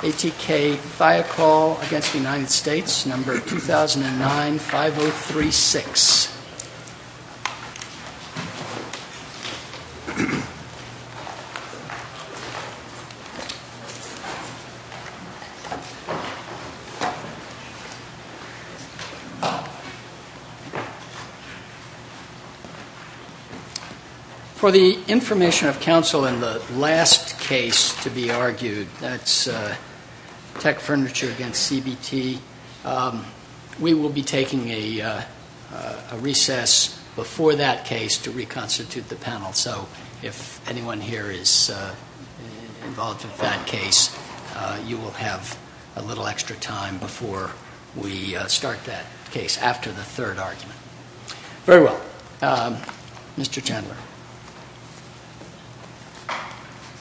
ATK Thikol Inc v. United States 2009-5036. For the information of counsel in the last case to be argued, that's tech furniture against CBT, we will be taking a recess before that case to reconstitute the panel. So if anyone here is involved in that case, you will have a little extra time before we start that case after the third argument. Very well. Mr. Chandler.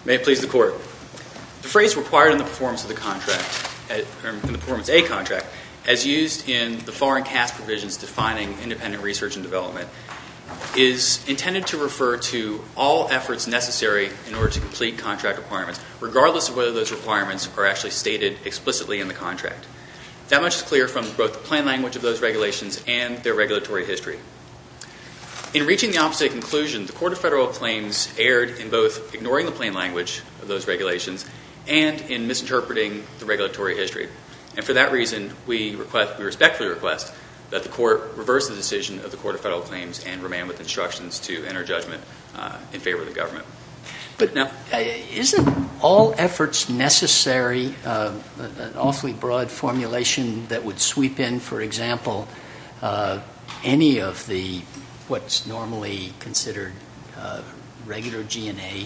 May it please the Court, the phrase required in the performance of the contract, in the performance of a contract, as used in the foreign cast provisions defining independent research and development, is intended to refer to all efforts necessary in order to complete contract requirements, regardless of whether those requirements are actually stated explicitly in the contract. That much is clear from both the plain language of those regulations and their regulatory history. In reaching the opposite conclusion, the Court of Federal Claims erred in both ignoring the plain language of those regulations and in misinterpreting the regulatory history. And for that reason, we respectfully request that the Court reverse the decision of the Court of Federal Claims and remain with instructions to enter judgment in favor of the government. But isn't all efforts necessary, an awfully broad formulation that would sweep in, for what's normally considered regular G&A,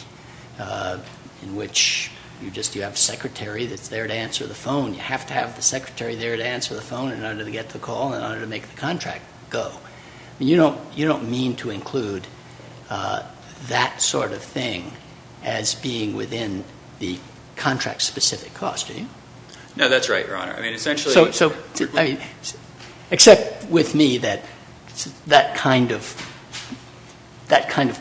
in which you just have a secretary that's there to answer the phone. You have to have the secretary there to answer the phone in order to get the call, in order to make the contract go. You don't mean to include that sort of thing as being within the contract-specific cost, do you? No, that's right, Your Honor. So, except with me that that kind of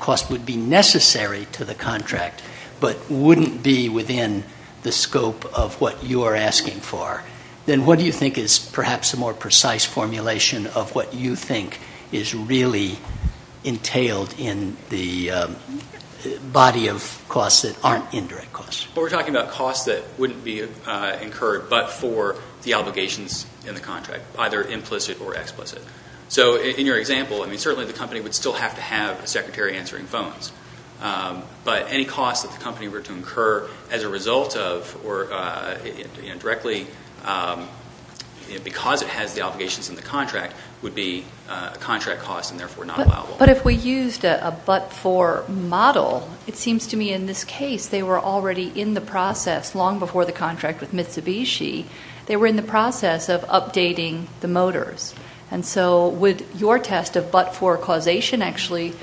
cost would be necessary to the contract, but wouldn't be within the scope of what you are asking for, then what do you think is perhaps a more precise formulation of what you think is really entailed in the body of costs that aren't indirect costs? Well, we're talking about costs that wouldn't be incurred but for the obligations in the contract, either implicit or explicit. So in your example, I mean, certainly the company would still have to have a secretary answering phones. But any costs that the company were to incur as a result of or directly because it has the obligations in the contract would be a contract cost and therefore not allowable. But if we used a but-for model, it seems to me in this case they were already in the process long before the contract with Mitsubishi. They were in the process of updating the motors. And so would your test of but-for causation actually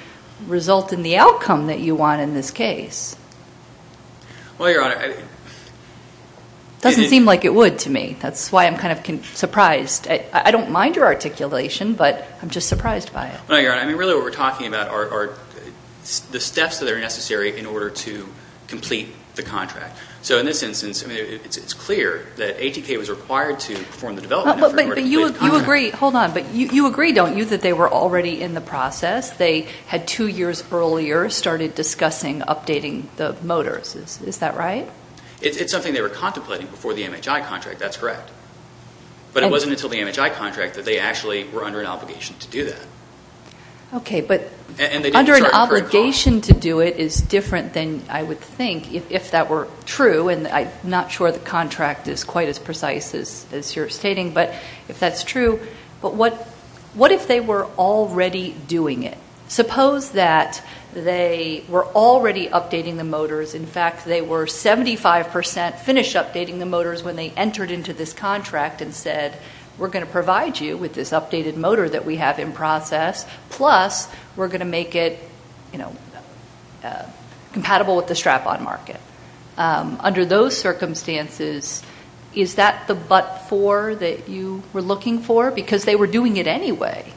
result in the outcome that you want in this case? Well, Your Honor, it doesn't seem like it would to me. That's why I'm kind of surprised. I don't mind your articulation, but I'm just surprised by it. No, Your Honor. I mean, really what we're talking about are the steps that are necessary in order to complete the contract. So in this instance, I mean, it's clear that ATK was required to perform the development in order to complete the contract. But you agree. Hold on. But you agree, don't you, that they were already in the process? They had two years earlier started discussing updating the motors. Is that right? It's something they were contemplating before the MHI contract. That's correct. But it wasn't until the MHI contract that they actually were under an obligation to do that. Okay. But under an obligation to do it is different than I would think if that were true. And I'm not sure the contract is quite as precise as you're stating. But if that's true, but what if they were already doing it? Suppose that they were already updating the motors. In fact, they were 75 percent finished updating the motors when they entered into this contract and said, we're going to provide you with this updated motor that we have in process, plus we're going to make it, you know, compatible with the strap-on market. Under those circumstances, is that the but-for that you were looking for? Because they were doing it anyway.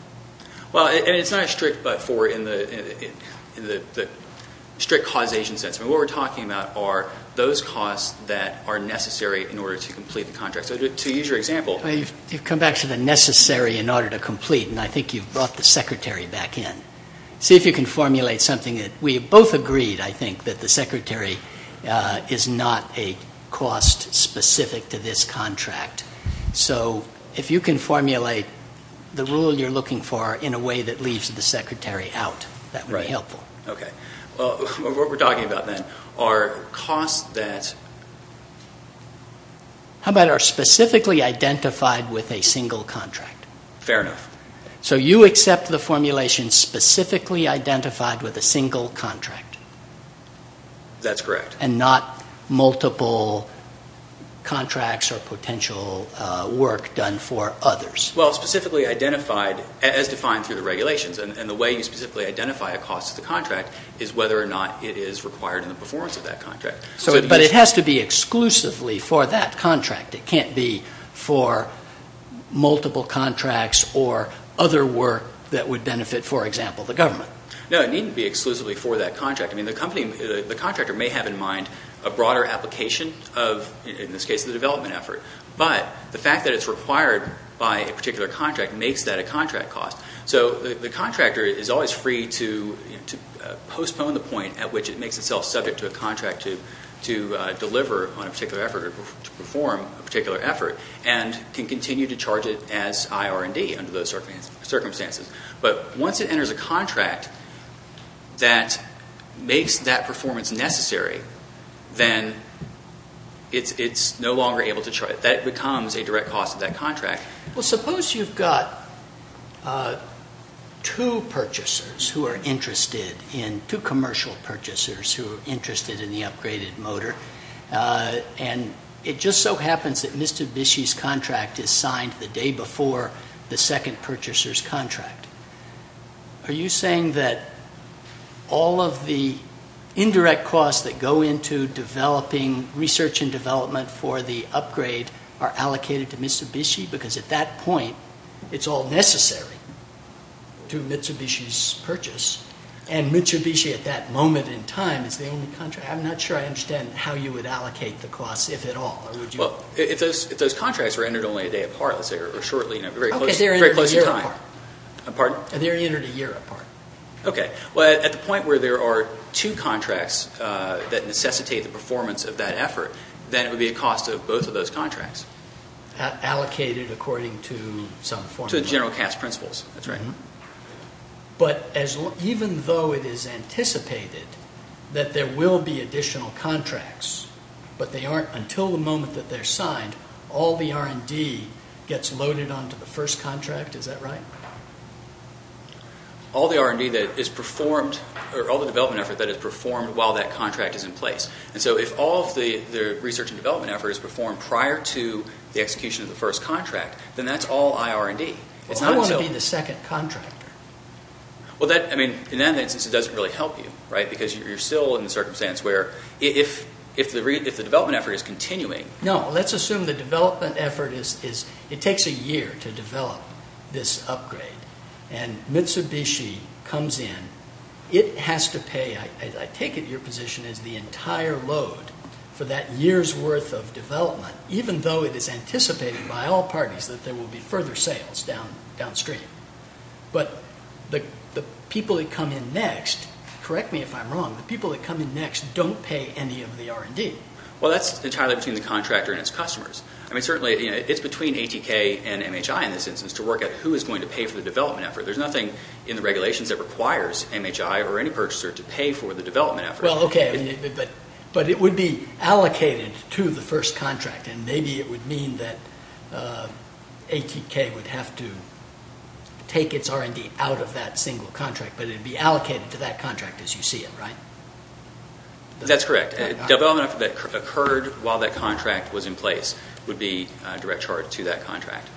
Well, I mean, it's not a strict but-for in the strict causation sense. I mean, what we're talking about are those costs that are necessary in order to complete the contract. So to use your example. Well, you've come back to the necessary in order to complete, and I think you've brought the secretary back in. See if you can formulate something that we both agreed, I think, that the secretary is not a cost specific to this contract. So if you can formulate the rule you're looking for in a way that leaves the secretary out, that would be helpful. Right. Okay. Well, what we're talking about, then, are costs that... How about are specifically identified with a single contract? Fair enough. So you accept the formulation specifically identified with a single contract? That's correct. And not multiple contracts or potential work done for others? Well, specifically identified as defined through the regulations, and the way you specifically identify a cost of the contract is whether or not it is required in the performance of that contract. So, but it has to be exclusively for that contract. It can't be for multiple contracts or other work that would benefit, for example, the government. No, it needn't be exclusively for that contract. I mean, the contractor may have in mind a broader application of, in this case, the development effort. But the fact that it's required by a particular contract makes that a contract cost. So the contractor is always free to postpone the point at which it makes itself subject to a contract to deliver on a particular effort or to perform a particular effort, and can continue to charge it as IR&D under those circumstances. But once it enters a contract that makes that performance necessary, then it's no longer able to charge. That becomes a direct cost of that contract. Well, suppose you've got two purchasers who are interested in, two commercial purchasers who are interested in the upgraded motor, and it just so happens that Mr. Bishy's contract is signed the day before the second purchaser's contract. Are you saying that all of the indirect costs that go into developing research and development for the upgrade are allocated to Mr. Bishy? Because at that point, it's all necessary to Mr. Bishy's purchase, and Mr. Bishy, at that moment in time, is the only contractor. I'm not sure I understand how you would allocate the costs, if at all. Well, if those contracts were entered only a day apart, let's say, or shortly, in a very close time. Okay, they're entered a year apart. Pardon? They're entered a year apart. Okay. Well, at the point where there are two contracts that necessitate the performance of that effort, then it would be a cost of both of those contracts. Allocated according to some form of... To the general cast principles, that's right. But even though it is anticipated that there will be additional contracts, but they aren't until the moment that they're signed, all the R&D gets loaded onto the first contract, is that right? All the R&D that is performed, or all the development effort that is performed while that contract is in place. And so, if all of the research and development effort is performed prior to the execution of the first contract, then that's all IR&D. Well, I want to be the second contractor. Well, that, I mean, in that instance, it doesn't really help you, right? Because you're still in the circumstance where, if the development effort is continuing... No. Let's assume the development effort is... It takes a year to develop this upgrade, and Mitsubishi comes in. It has to pay, I take it your position, is the entire load for that year's worth of development, even though it is anticipated by all parties that there will be further sales downstream. But the people that come in next, correct me if I'm wrong, the people that come in next don't pay any of the R&D. Well, that's entirely between the contractor and its customers. I mean, certainly, it's between ATK and MHI in this instance to work out who is going to pay for the development effort. There's nothing in the regulations that requires MHI or any purchaser to pay for the development effort. Well, okay, but it would be allocated to the first contract, and maybe it would mean that ATK would have to take its R&D out of that single contract, but it would be allocated to that contract as you see it, right? That's correct. Development effort that occurred while that contract was in place would be direct charge to that contract.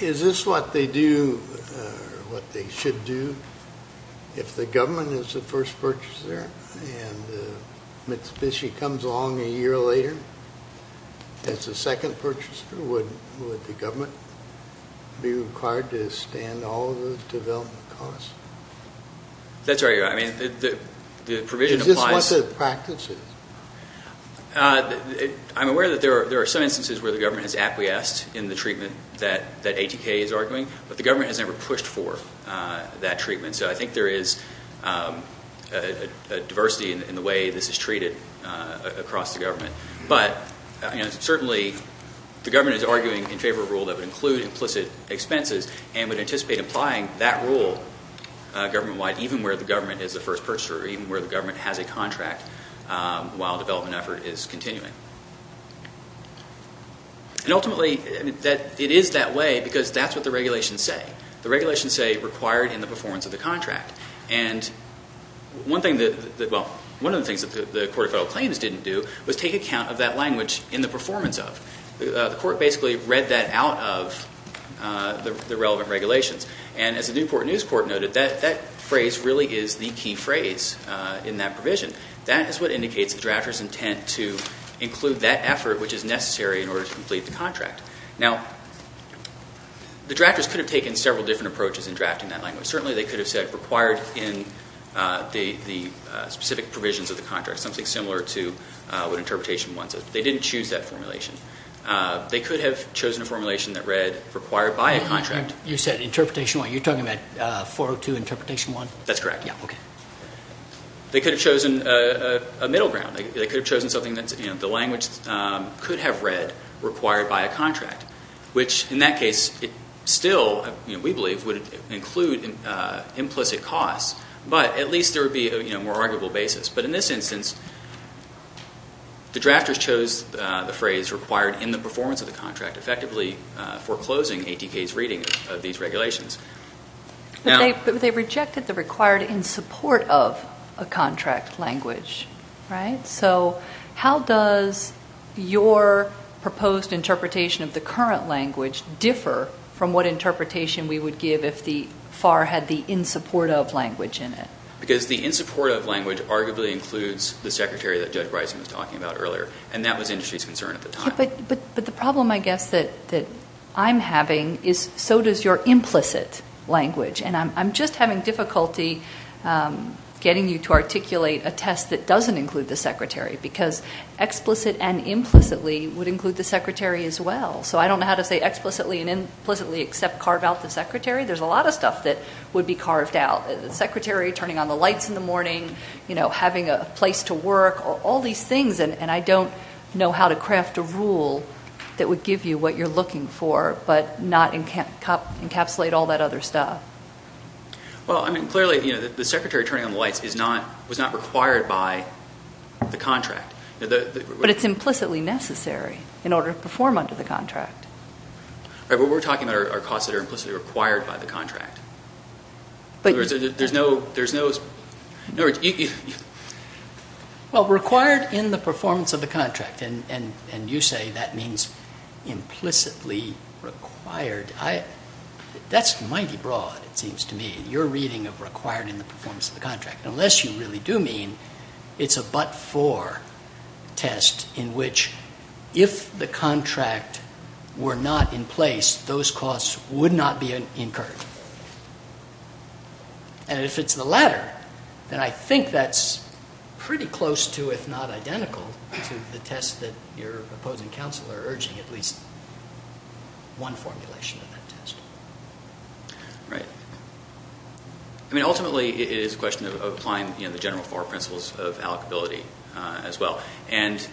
Is this what they do, or what they should do, if the government is the first purchaser and Mitsubishi comes along a year later as the second purchaser, would the government be required to stand all of the development costs? That's right. I mean, the provision applies. Is this what the practice is? I'm aware that there are some instances where the government has acquiesced in the treatment that ATK is arguing, but the government has never pushed for that treatment, so I think there is a diversity in the way this is treated across the government. But certainly, the government is arguing in favor of a rule that would include implicit expenses and would anticipate applying that rule government-wide, even where the government is the first purchaser, even where the government has a contract while development effort is continuing. And ultimately, it is that way because that's what the regulations say. The regulations say, required in the performance of the contract. And one of the things that the Court of Federal Claims didn't do was take account of that language, in the performance of. The Court basically read that out of the relevant regulations. And as the Newport News Court noted, that phrase really is the key phrase in that provision. That is what indicates the drafter's intent to include that effort which is necessary in order to complete the contract. Now, the drafters could have taken several different approaches in drafting that language. Certainly, they could have said, required in the specific provisions of the contract, something similar to what interpretation wants. They didn't choose that formulation. They could have chosen a formulation that read, required by a contract. You said interpretation one. You're talking about 402 interpretation one? That's correct. Yeah. Okay. They could have chosen a middle ground. They could have chosen something that the language could have read, required by a contract, which in that case still, we believe, would include implicit costs. But at least there would be a more arguable basis. But in this instance, the drafters chose the phrase, required in the performance of the contract, effectively foreclosing ATK's reading of these regulations. But they rejected the required in support of a contract language, right? So how does your proposed interpretation of the current language differ from what interpretation we would give if the FAR had the in support of language in it? Because the in support of language arguably includes the secretary that Judge Bryson was talking about earlier, and that was industry's concern at the time. But the problem, I guess, that I'm having is so does your implicit language. And I'm just having difficulty getting you to articulate a test that doesn't include the secretary because explicit and implicitly would include the secretary as well. So I don't know how to say explicitly and implicitly except carve out the secretary. There's a lot of stuff that would be carved out, the secretary turning on the lights in the morning, you know, having a place to work or all these things, and I don't know how to craft a rule that would give you what you're looking for but not encapsulate all that other stuff. Well, I mean, clearly, you know, the secretary turning on the lights was not required by the contract. But it's implicitly necessary in order to perform under the contract. Right, but we're talking about our costs that are implicitly required by the contract. But there's no, there's no. Well, required in the performance of the contract, and you say that means implicitly required. That's mighty broad, it seems to me, your reading of required in the performance of the contract. Unless you really do mean it's a but-for test in which if the contract were not in place, those costs would not be incurred. And if it's the latter, then I think that's pretty close to, if not identical, to the test that your opposing counsel are urging, at least one formulation of that test. Right. I mean, ultimately, it is a question of applying, you know, the general four principles of allocability as well. And,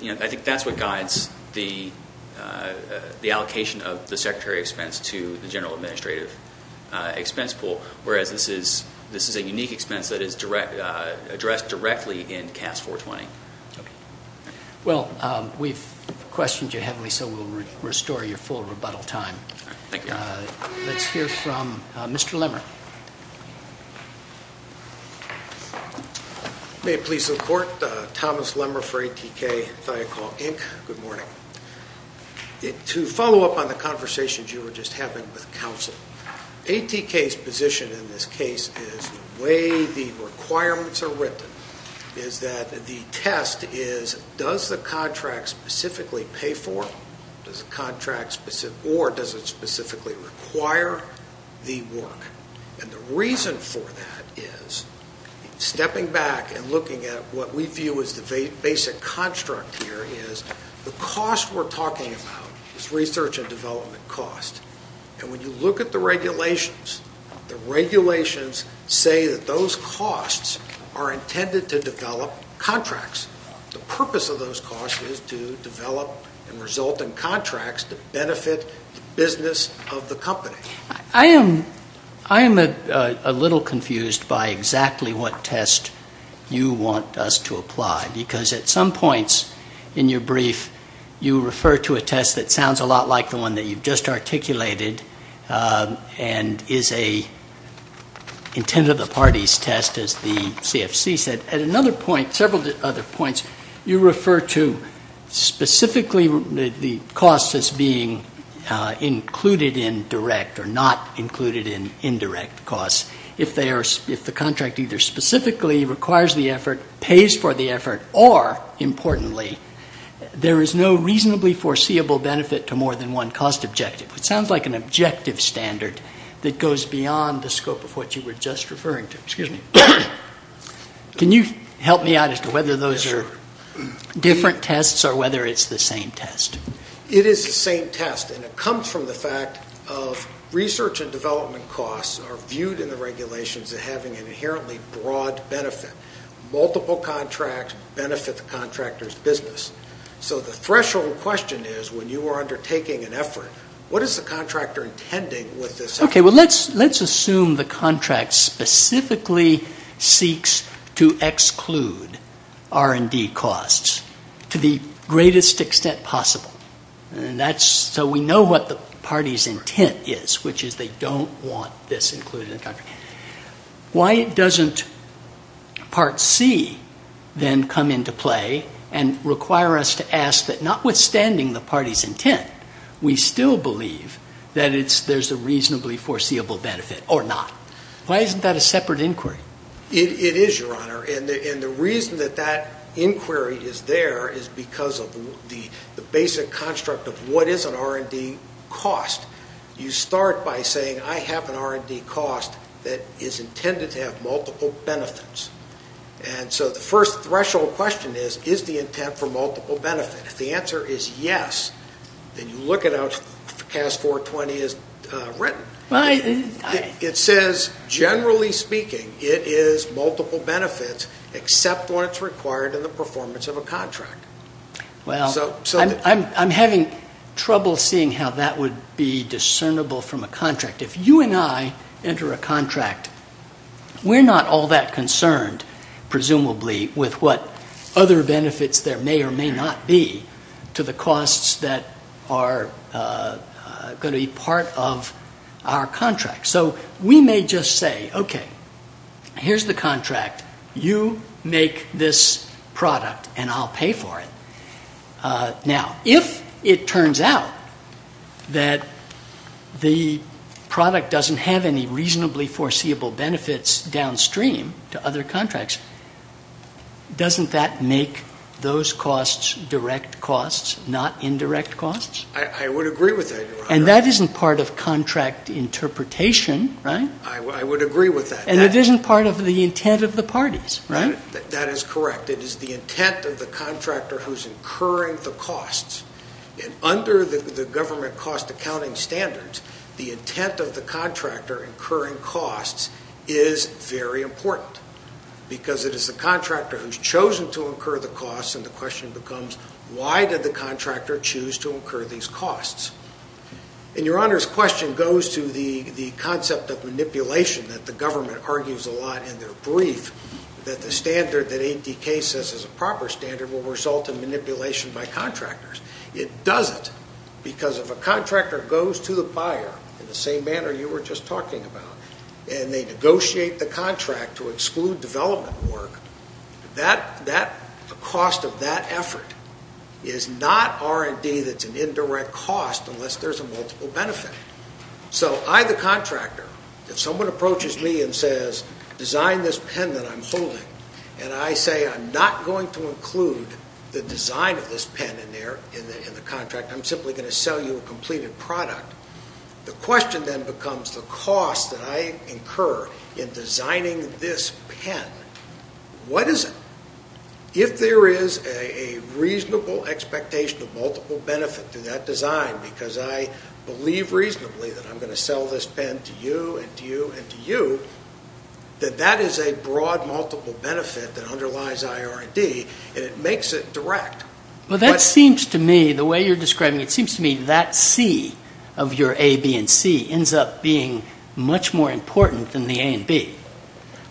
you know, I think that's what guides the allocation of the secretary expense to the general administrative expense pool, whereas this is a unique expense that is addressed directly in CAS 420. Okay. Well, we've questioned you heavily, so we'll restore your full rebuttal time. Thank you. Let's hear from Mr. Lemer. May it please the Court. Thomas Lemer for ATK, Thiokol, Inc. Good morning. To follow up on the conversations you were just having with counsel, ATK's position in this case is the way the requirements are written is that the test is, does the contract specifically pay for it, or does it specifically require the work? And the reason for that is, stepping back and looking at what we view as the basic construct here, is the cost we're talking about is research and development cost. And when you look at the regulations, the regulations say that those costs are intended to develop contracts. The purpose of those costs is to develop and result in contracts to benefit the business of the company. I am a little confused by exactly what test you want us to apply, because at some points in your brief you refer to a test that sounds a lot like the one that you've just articulated and is a intent of the parties test, as the CFC said. But at another point, several other points, you refer to specifically the cost as being included in direct or not included in indirect costs. If the contract either specifically requires the effort, pays for the effort, or, importantly, there is no reasonably foreseeable benefit to more than one cost objective. It sounds like an objective standard that goes beyond the scope of what you were just referring to. Excuse me. Can you help me out as to whether those are different tests or whether it's the same test? It is the same test, and it comes from the fact of research and development costs are viewed in the regulations as having an inherently broad benefit. Multiple contracts benefit the contractor's business. So the threshold question is when you are undertaking an effort, what is the contractor intending with this effort? Let's assume the contract specifically seeks to exclude R&D costs to the greatest extent possible. So we know what the party's intent is, which is they don't want this included in the contract. Why doesn't Part C then come into play and require us to ask that notwithstanding the party's intent, we still believe that there's a reasonably foreseeable benefit or not? Why isn't that a separate inquiry? It is, Your Honor, and the reason that that inquiry is there is because of the basic construct of what is an R&D cost. You start by saying, I have an R&D cost that is intended to have multiple benefits. And so the first threshold question is, is the intent for multiple benefit? If the answer is yes, then you look at how CAS 420 is written. It says, generally speaking, it is multiple benefits except when it's required in the performance of a contract. Well, I'm having trouble seeing how that would be discernible from a contract. If you and I enter a contract, we're not all that concerned, presumably, with what other benefits there may or may not be to the costs that are going to be part of our contract. So we may just say, okay, here's the contract. You make this product, and I'll pay for it. Now, if it turns out that the product doesn't have any reasonably foreseeable benefits downstream to other contracts, doesn't that make those costs direct costs, not indirect costs? I would agree with that, Your Honor. And that isn't part of contract interpretation, right? I would agree with that. And it isn't part of the intent of the parties, right? That is correct. It is the intent of the contractor who's incurring the costs. And under the government cost accounting standards, the intent of the contractor incurring costs is very important because it is the contractor who's chosen to incur the costs, and the question becomes, why did the contractor choose to incur these costs? And Your Honor's question goes to the concept of manipulation that the government argues a lot in their brief, that the standard that ADK says is a proper standard will result in manipulation by contractors. It doesn't because if a contractor goes to the buyer in the same manner you were just talking about and they negotiate the contract to exclude development work, the cost of that effort is not R&D that's an indirect cost unless there's a multiple benefit. So I, the contractor, if someone approaches me and says, design this pen that I'm holding, and I say I'm not going to include the design of this pen in the contract, I'm simply going to sell you a completed product, the question then becomes the cost that I incur in designing this pen, what is it? If there is a reasonable expectation of multiple benefit to that design because I believe reasonably that I'm going to sell this pen to you and to you and to you, then that is a broad multiple benefit that underlies IR&D, and it makes it direct. Well, that seems to me, the way you're describing it, it seems to me that C of your A, B, and C ends up being much more important than the A and B.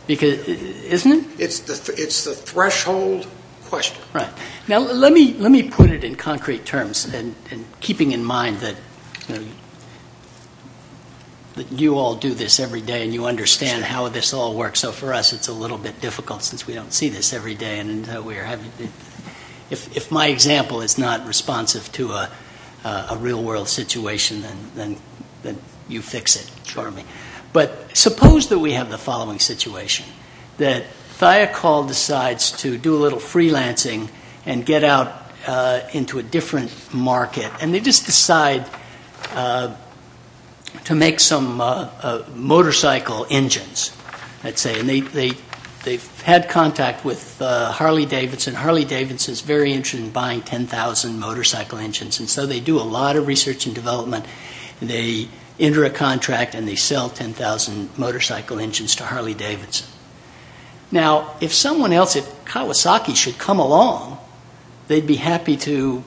Isn't it? It's the threshold question. Right. Now let me put it in concrete terms and keeping in mind that you all do this every day and you understand how this all works, so for us it's a little bit difficult since we don't see this every day. If my example is not responsive to a real-world situation, then you fix it for me. But suppose that we have the following situation, that Thiokol decides to do a little freelancing and get out into a different market and they just decide to make some motorcycle engines, let's say, and they've had contact with Harley-Davidson. Harley-Davidson is very interested in buying 10,000 motorcycle engines and so they do a lot of research and development. They enter a contract and they sell 10,000 motorcycle engines to Harley-Davidson. Now, if someone else, if Kawasaki should come along, they'd be happy to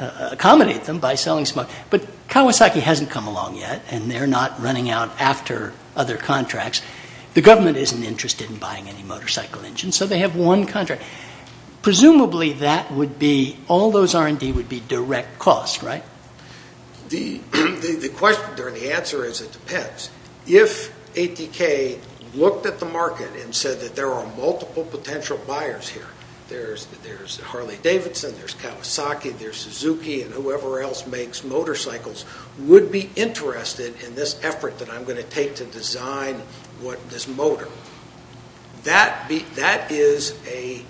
accommodate them by selling some more, but Kawasaki hasn't come along yet and they're not running out after other contracts. The government isn't interested in buying any motorcycle engines, so they have one contract. Presumably, all those R&D would be direct cost, right? The answer is it depends. If ATK looked at the market and said that there are multiple potential buyers here, there's Harley-Davidson, there's Kawasaki, there's Suzuki, and whoever else makes motorcycles would be interested in this effort that I'm going to take to design this motor. That is an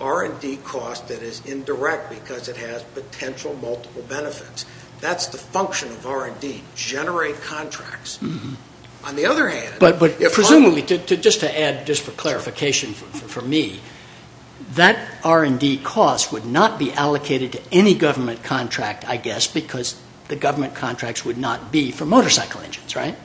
R&D cost that is indirect because it has potential multiple benefits. That's the function of R&D, generate contracts. On the other hand... But presumably, just to add, just for clarification for me, that R&D cost would not be allocated to any government contract, I guess, because the government contracts would not be for motorcycle engines, right?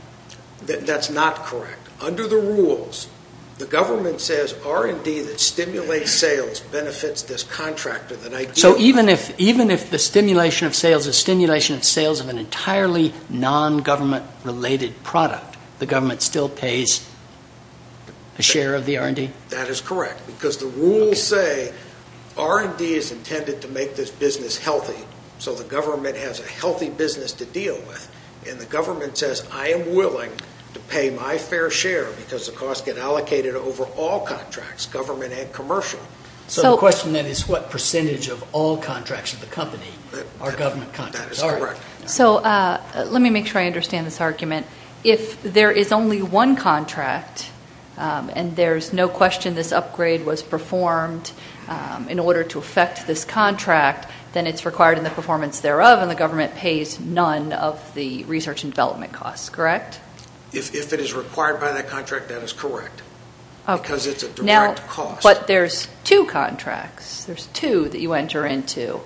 That's not correct. Under the rules, the government says R&D that stimulates sales benefits this contractor that I give. So even if the stimulation of sales is stimulation of sales of an entirely non-government-related product, the government still pays a share of the R&D? That is correct because the rules say R&D is intended to make this business healthy so the government has a healthy business to deal with, and the government says I am willing to pay my fair share because the costs get allocated over all contracts, government and commercial. So the question then is what percentage of all contracts of the company are government contracts? So let me make sure I understand this argument. If there is only one contract and there's no question this upgrade was performed in order to affect this contract, then it's required in the performance thereof and the government pays none of the research and development costs, correct? If it is required by that contract, that is correct because it's a direct cost. But there's two contracts. There's two that you enter into.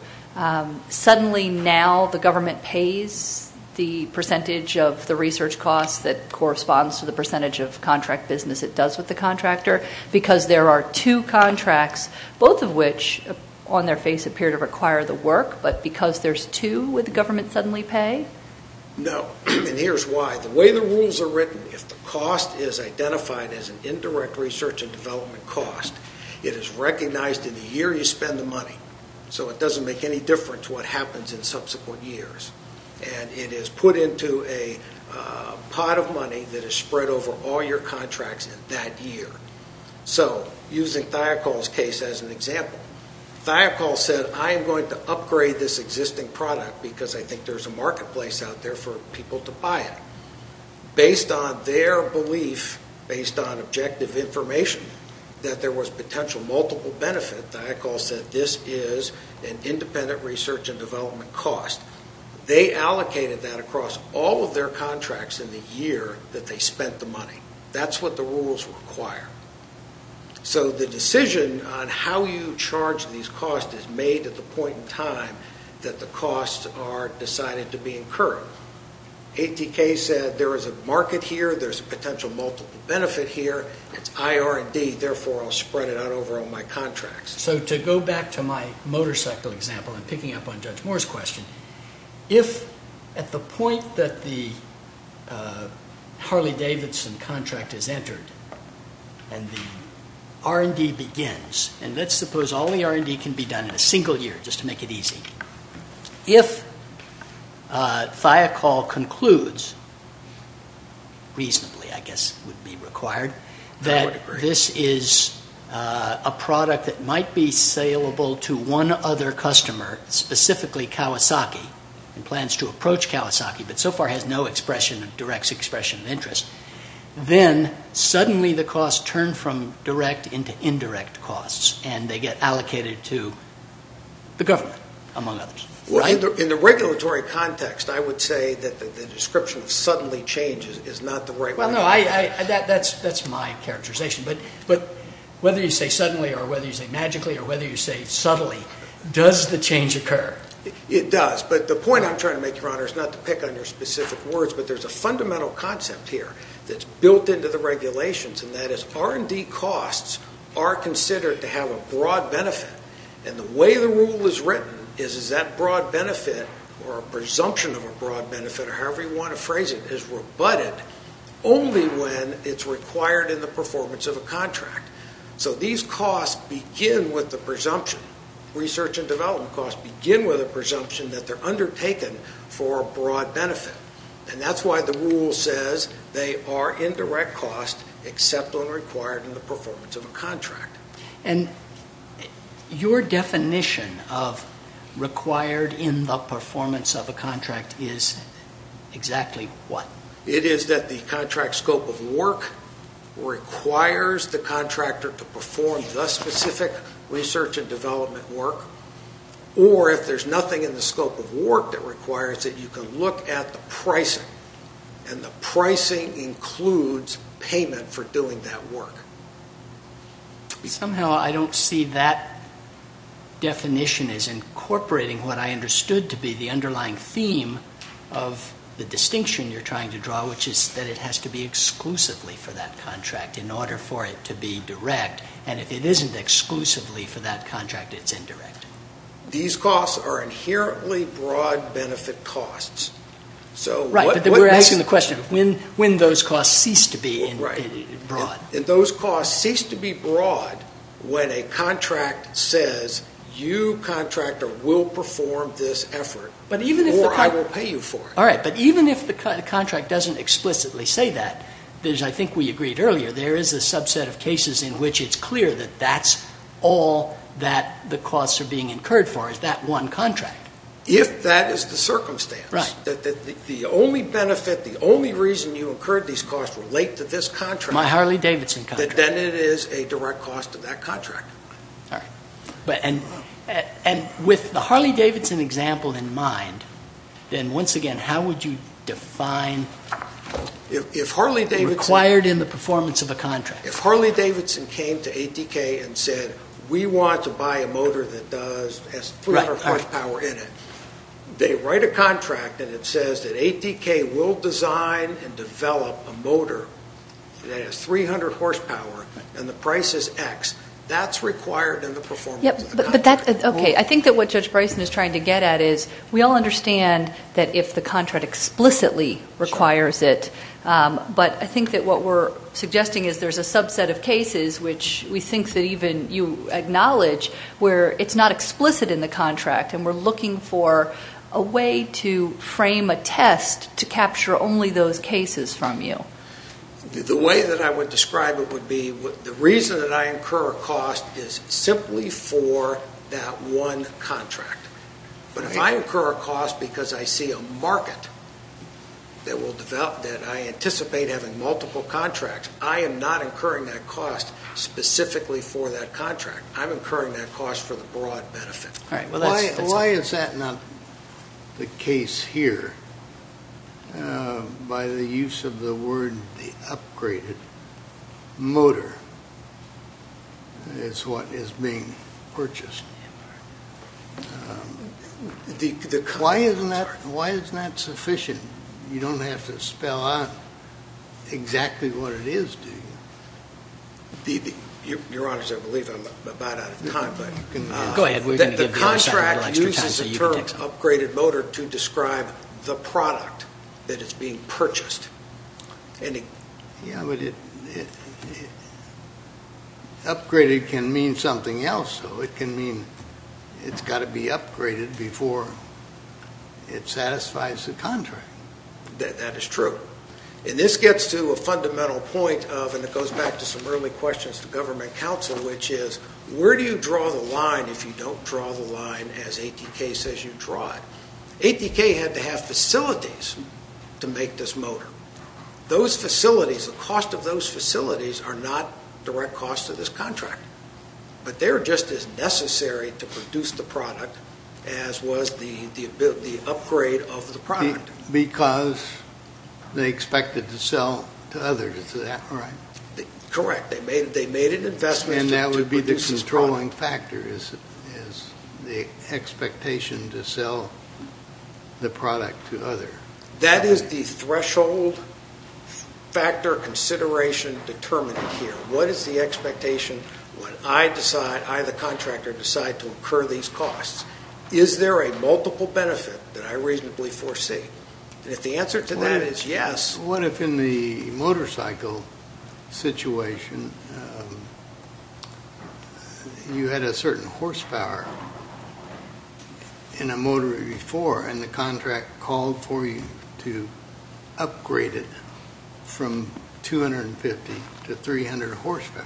Suddenly now the government pays the percentage of the research costs that corresponds to the percentage of contract business it does with the contractor because there are two contracts, both of which on their face appear to require the work, but because there's two, would the government suddenly pay? No, and here's why. The way the rules are written, if the cost is identified as an indirect research and development cost, it is recognized in the year you spend the money. So it doesn't make any difference what happens in subsequent years. And it is put into a pot of money that is spread over all your contracts in that year. So using Thiokol's case as an example, Thiokol said, I am going to upgrade this existing product because I think there's a marketplace out there for people to buy it. Based on their belief, based on objective information, that there was potential multiple benefit, Thiokol said this is an independent research and development cost. They allocated that across all of their contracts in the year that they spent the money. That's what the rules require. So the decision on how you charge these costs is made at the point in time that the costs are decided to be incurred. ATK said there is a market here, there's a potential multiple benefit here, it's IR&D, therefore I'll spread it out over all my contracts. So to go back to my motorcycle example, and picking up on Judge Moore's question, if at the point that the Harley-Davidson contract is entered and the R&D begins, and let's suppose all the R&D can be done in a single year just to make it easy. If Thiokol concludes, reasonably I guess would be required, that this is a product that might be saleable to one other customer, specifically Kawasaki, and plans to approach Kawasaki, but so far has no direct expression of interest, then suddenly the costs turn from direct into indirect costs, and they get allocated to the government, among others. In the regulatory context, I would say that the description of suddenly change is not the right one. Well, no, that's my characterization, but whether you say suddenly or whether you say magically, or whether you say subtly, does the change occur? It does, but the point I'm trying to make, Your Honor, is not to pick on your specific words, but there's a fundamental concept here that's built into the regulations, and that is R&D costs are considered to have a broad benefit, and the way the rule is written is that broad benefit, or a presumption of a broad benefit, or however you want to phrase it, is rebutted only when it's required in the performance of a contract. So these costs begin with the presumption, research and development costs begin with a presumption that they're undertaken for a broad benefit, and that's why the rule says they are indirect costs except when required in the performance of a contract. And your definition of required in the performance of a contract is exactly what? It is that the contract scope of work requires the contractor to perform the specific research and development work, or if there's nothing in the scope of work that requires it, you can look at the pricing, and the pricing includes payment for doing that work. Somehow I don't see that definition as incorporating what I understood to be the underlying theme of the distinction you're trying to draw, which is that it has to be exclusively for that contract in order for it to be direct, and if it isn't exclusively for that contract, it's indirect. These costs are inherently broad benefit costs. Right, but we're asking the question, when do those costs cease to be broad? Those costs cease to be broad when a contract says, you, contractor, will perform this effort, or I will pay you for it. All right, but even if the contract doesn't explicitly say that, as I think we agreed earlier, there is a subset of cases in which it's clear that that's all that the costs are being incurred for, is that one contract. If that is the circumstance, that the only benefit, the only reason you incurred these costs relate to this contract, my Harley-Davidson contract, then it is a direct cost to that contract. All right, and with the Harley-Davidson example in mind, then once again, how would you define required in the performance of a contract? If Harley-Davidson came to ATK and said, we want to buy a motor that has 300 horsepower in it, they write a contract, and it says that ATK will design and develop a motor that has 300 horsepower and the price is X, that's required in the performance of the contract. Okay, I think that what Judge Bryson is trying to get at is, we all understand that if the contract explicitly requires it, but I think that what we're suggesting is there's a subset of cases which we think that even you acknowledge where it's not explicit in the contract and we're looking for a way to frame a test to capture only those cases from you. The way that I would describe it would be, the reason that I incur a cost is simply for that one contract. But if I incur a cost because I see a market that I anticipate having multiple contracts, I am not incurring that cost specifically for that contract. I'm incurring that cost for the broad benefit. Why is that not the case here? By the use of the word, the upgraded motor, is what is being purchased. Why isn't that sufficient? You don't have to spell out exactly what it is, do you? Your Honor, I believe I'm about out of time. The contract uses the term upgraded motor to describe the product that is being purchased. Upgraded can mean something else. It can mean it's got to be upgraded before it satisfies the contract. That is true. And this gets to a fundamental point of, and it goes back to some early questions to government counsel, which is, where do you draw the line if you don't draw the line as ATK says you draw it? ATK had to have facilities to make this motor. Those facilities, the cost of those facilities, are not direct costs to this contract. But they're just as necessary to produce the product as was the upgrade of the product. Because they expected to sell to others, is that right? Correct. They made an investment to produce this product. And that would be the controlling factor, is the expectation to sell the product to others. That is the threshold factor consideration determined here. What is the expectation when I decide, I the contractor, decide to incur these costs? Is there a multiple benefit that I reasonably foresee? And if the answer to that is yes. What if in the motorcycle situation, you had a certain horsepower in a motor before, and the contract called for you to upgrade it from 250 to 300 horsepower?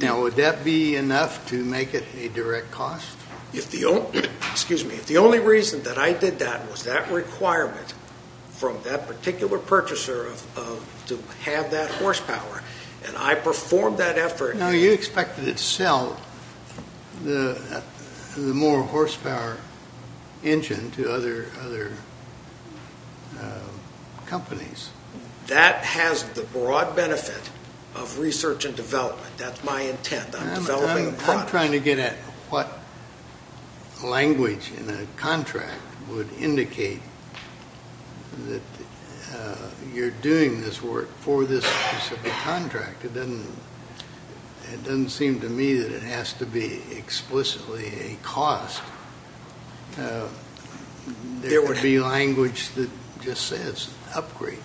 Now, would that be enough to make it a direct cost? If the only reason that I did that was that requirement from that particular purchaser to have that horsepower, and I performed that effort. Now, you expected it to sell the more horsepower engine to other companies. That has the broad benefit of research and development. That's my intent. I'm developing a product. I'm trying to get at what language in a contract would indicate that you're doing this work for this specific contract. It doesn't seem to me that it has to be explicitly a cost. There would be language that just says upgrade.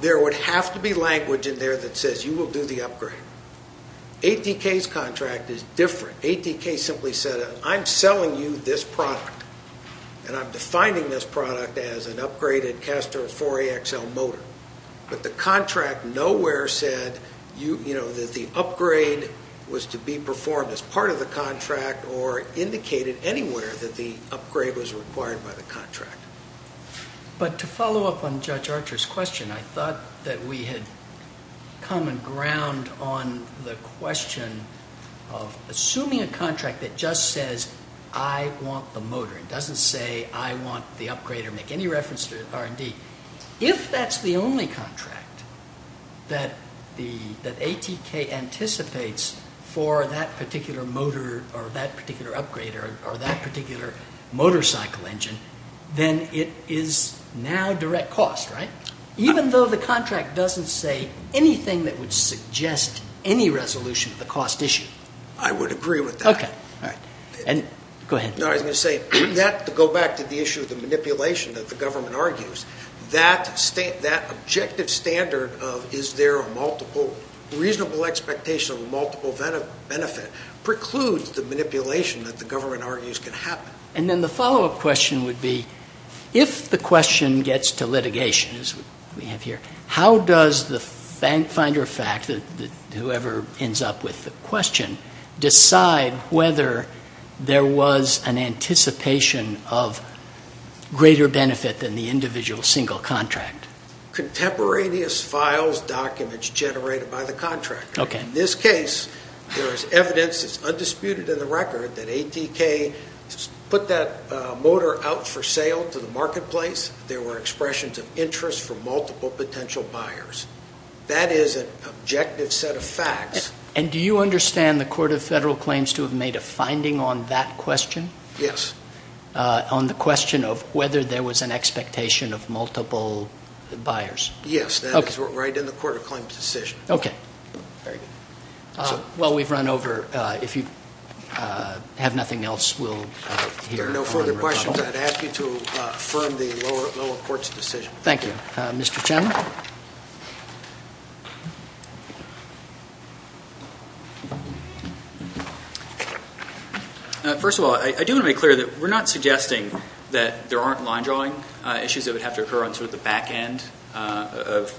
There would have to be language in there that says you will do the upgrade. ATK's contract is different. ATK simply said, I'm selling you this product, and I'm defining this product as an upgraded Castor 4AXL motor. But the contract nowhere said that the upgrade was to be performed as part of the contract or indicated anywhere that the upgrade was required by the contract. But to follow up on Judge Archer's question, I thought that we had common ground on the question of assuming a contract that just says, I want the motor. It doesn't say, I want the upgrade or make any reference to R&D. If that's the only contract that ATK anticipates for that particular motor or that particular upgrade or that particular motorcycle engine, then it is now direct cost, right? Even though the contract doesn't say anything that would suggest any resolution of the cost issue. I would agree with that. Okay. Go ahead. I was going to say, to go back to the issue of the manipulation that the government argues, that objective standard of, is there a multiple reasonable expectation of a multiple benefit, precludes the manipulation that the government argues can happen. And then the follow-up question would be, if the question gets to litigation, as we have here, how does the finder of fact, whoever ends up with the question, decide whether there was an anticipation of greater benefit than the individual single contract? Contemporaneous files, documents generated by the contractor. In this case, there is evidence, it's undisputed in the record, that ATK put that motor out for sale to the marketplace. There were expressions of interest from multiple potential buyers. That is an objective set of facts. And do you understand the Court of Federal Claims to have made a finding on that question? Yes. On the question of whether there was an expectation of multiple buyers? Yes. That is right in the Court of Claims' decision. Okay. Very good. Well, we've run over. If you have nothing else, we'll hear. If there are no further questions, I'd ask you to affirm the lower court's decision. Thank you. Mr. Chairman? First of all, I do want to make clear that we're not suggesting that there aren't line-drawing issues that would have to occur on sort of the back end of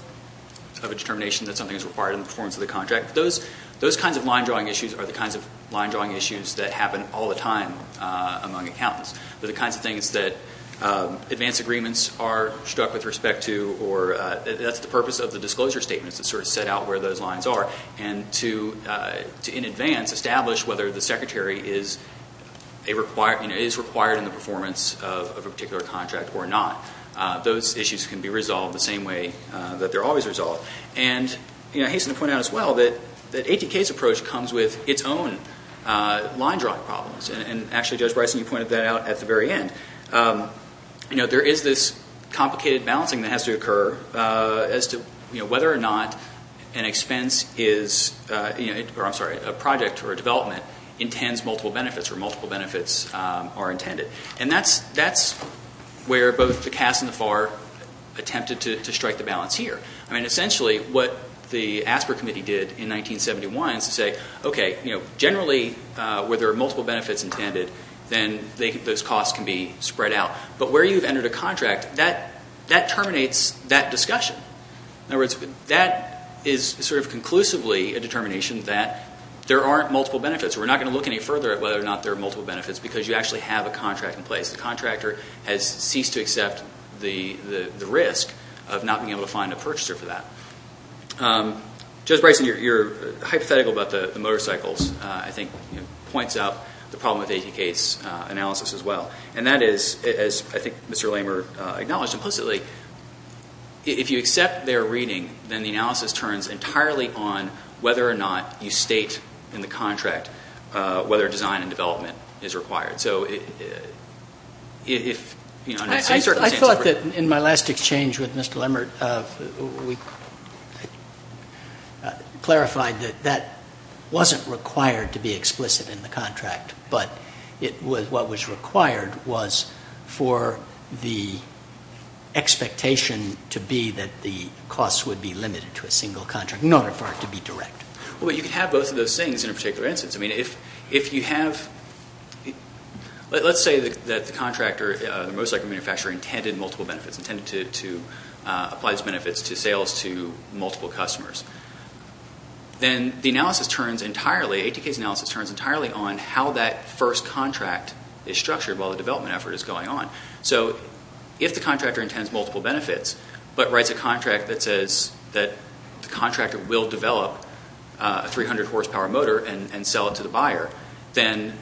a determination that something is required in the performance of the contract. Those kinds of line-drawing issues are the kinds of line-drawing issues that happen all the time among accountants. They're the kinds of things that advance agreements are struck with respect to, or that's the purpose of the disclosure statements to sort of set out where those lines are and to, in advance, establish whether the secretary is required in the performance of a particular contract or not. Those issues can be resolved the same way that they're always resolved. And I hasten to point out as well that ATK's approach comes with its own line-drawing problems. And actually, Judge Bryson, you pointed that out at the very end. There is this complicated balancing that has to occur as to whether or not a project or a development intends multiple benefits or multiple benefits are intended. And that's where both the CAS and the FAR attempted to strike the balance here. I mean, essentially, what the ASPR Committee did in 1971 is to say, okay, generally, where there are multiple benefits intended, then those costs can be spread out. But where you've entered a contract, that terminates that discussion. In other words, that is sort of conclusively a determination that there aren't multiple benefits. We're not going to look any further at whether or not there are multiple benefits because you actually have a contract in place. The contractor has ceased to accept the risk of not being able to find a purchaser for that. Judge Bryson, your hypothetical about the motorcycles, I think, points out the problem with ATK's analysis as well. And that is, as I think Mr. Lamer acknowledged implicitly, if you accept their reading, then the analysis turns entirely on whether or not you state in the contract whether design and development is required. So if, you know, in that same circumstance. I thought that in my last exchange with Mr. Lamer, we clarified that that wasn't required to be explicit in the contract, but what was required was for the expectation to be that the costs would be limited to a single contract in order for it to be direct. Well, you can have both of those things in a particular instance. I mean, if you have, let's say that the contractor, the motorcycle manufacturer, intended multiple benefits, intended to apply those benefits to sales to multiple customers. Then the analysis turns entirely, ATK's analysis turns entirely on how that first contract is structured while the development effort is going on. So if the contractor intends multiple benefits, but writes a contract that says that the contractor will develop a 300-horsepower motor and sell it to the buyer, then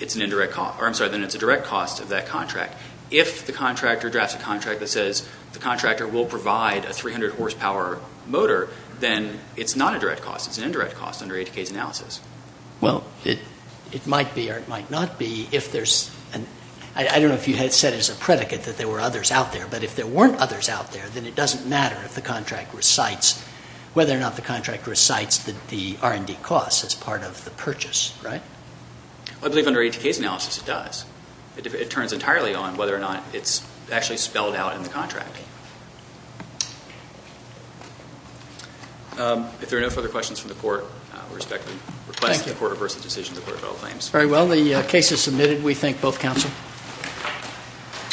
it's a direct cost of that contract. If the contractor drafts a contract that says the contractor will provide a 300-horsepower motor, then it's not a direct cost. It's an indirect cost under ATK's analysis. Well, it might be or it might not be if there's an, I don't know if you had said as a predicate that there were others out there, but if there weren't others out there, then it doesn't matter if the contract recites, whether or not the contract recites the R&D costs as part of the purchase, right? I believe under ATK's analysis it does. It turns entirely on whether or not it's actually spelled out in the contract. If there are no further questions from the Court, I respectfully request that the Court reverse the decision to defer federal claims. Very well. The case is submitted. We thank both counsel.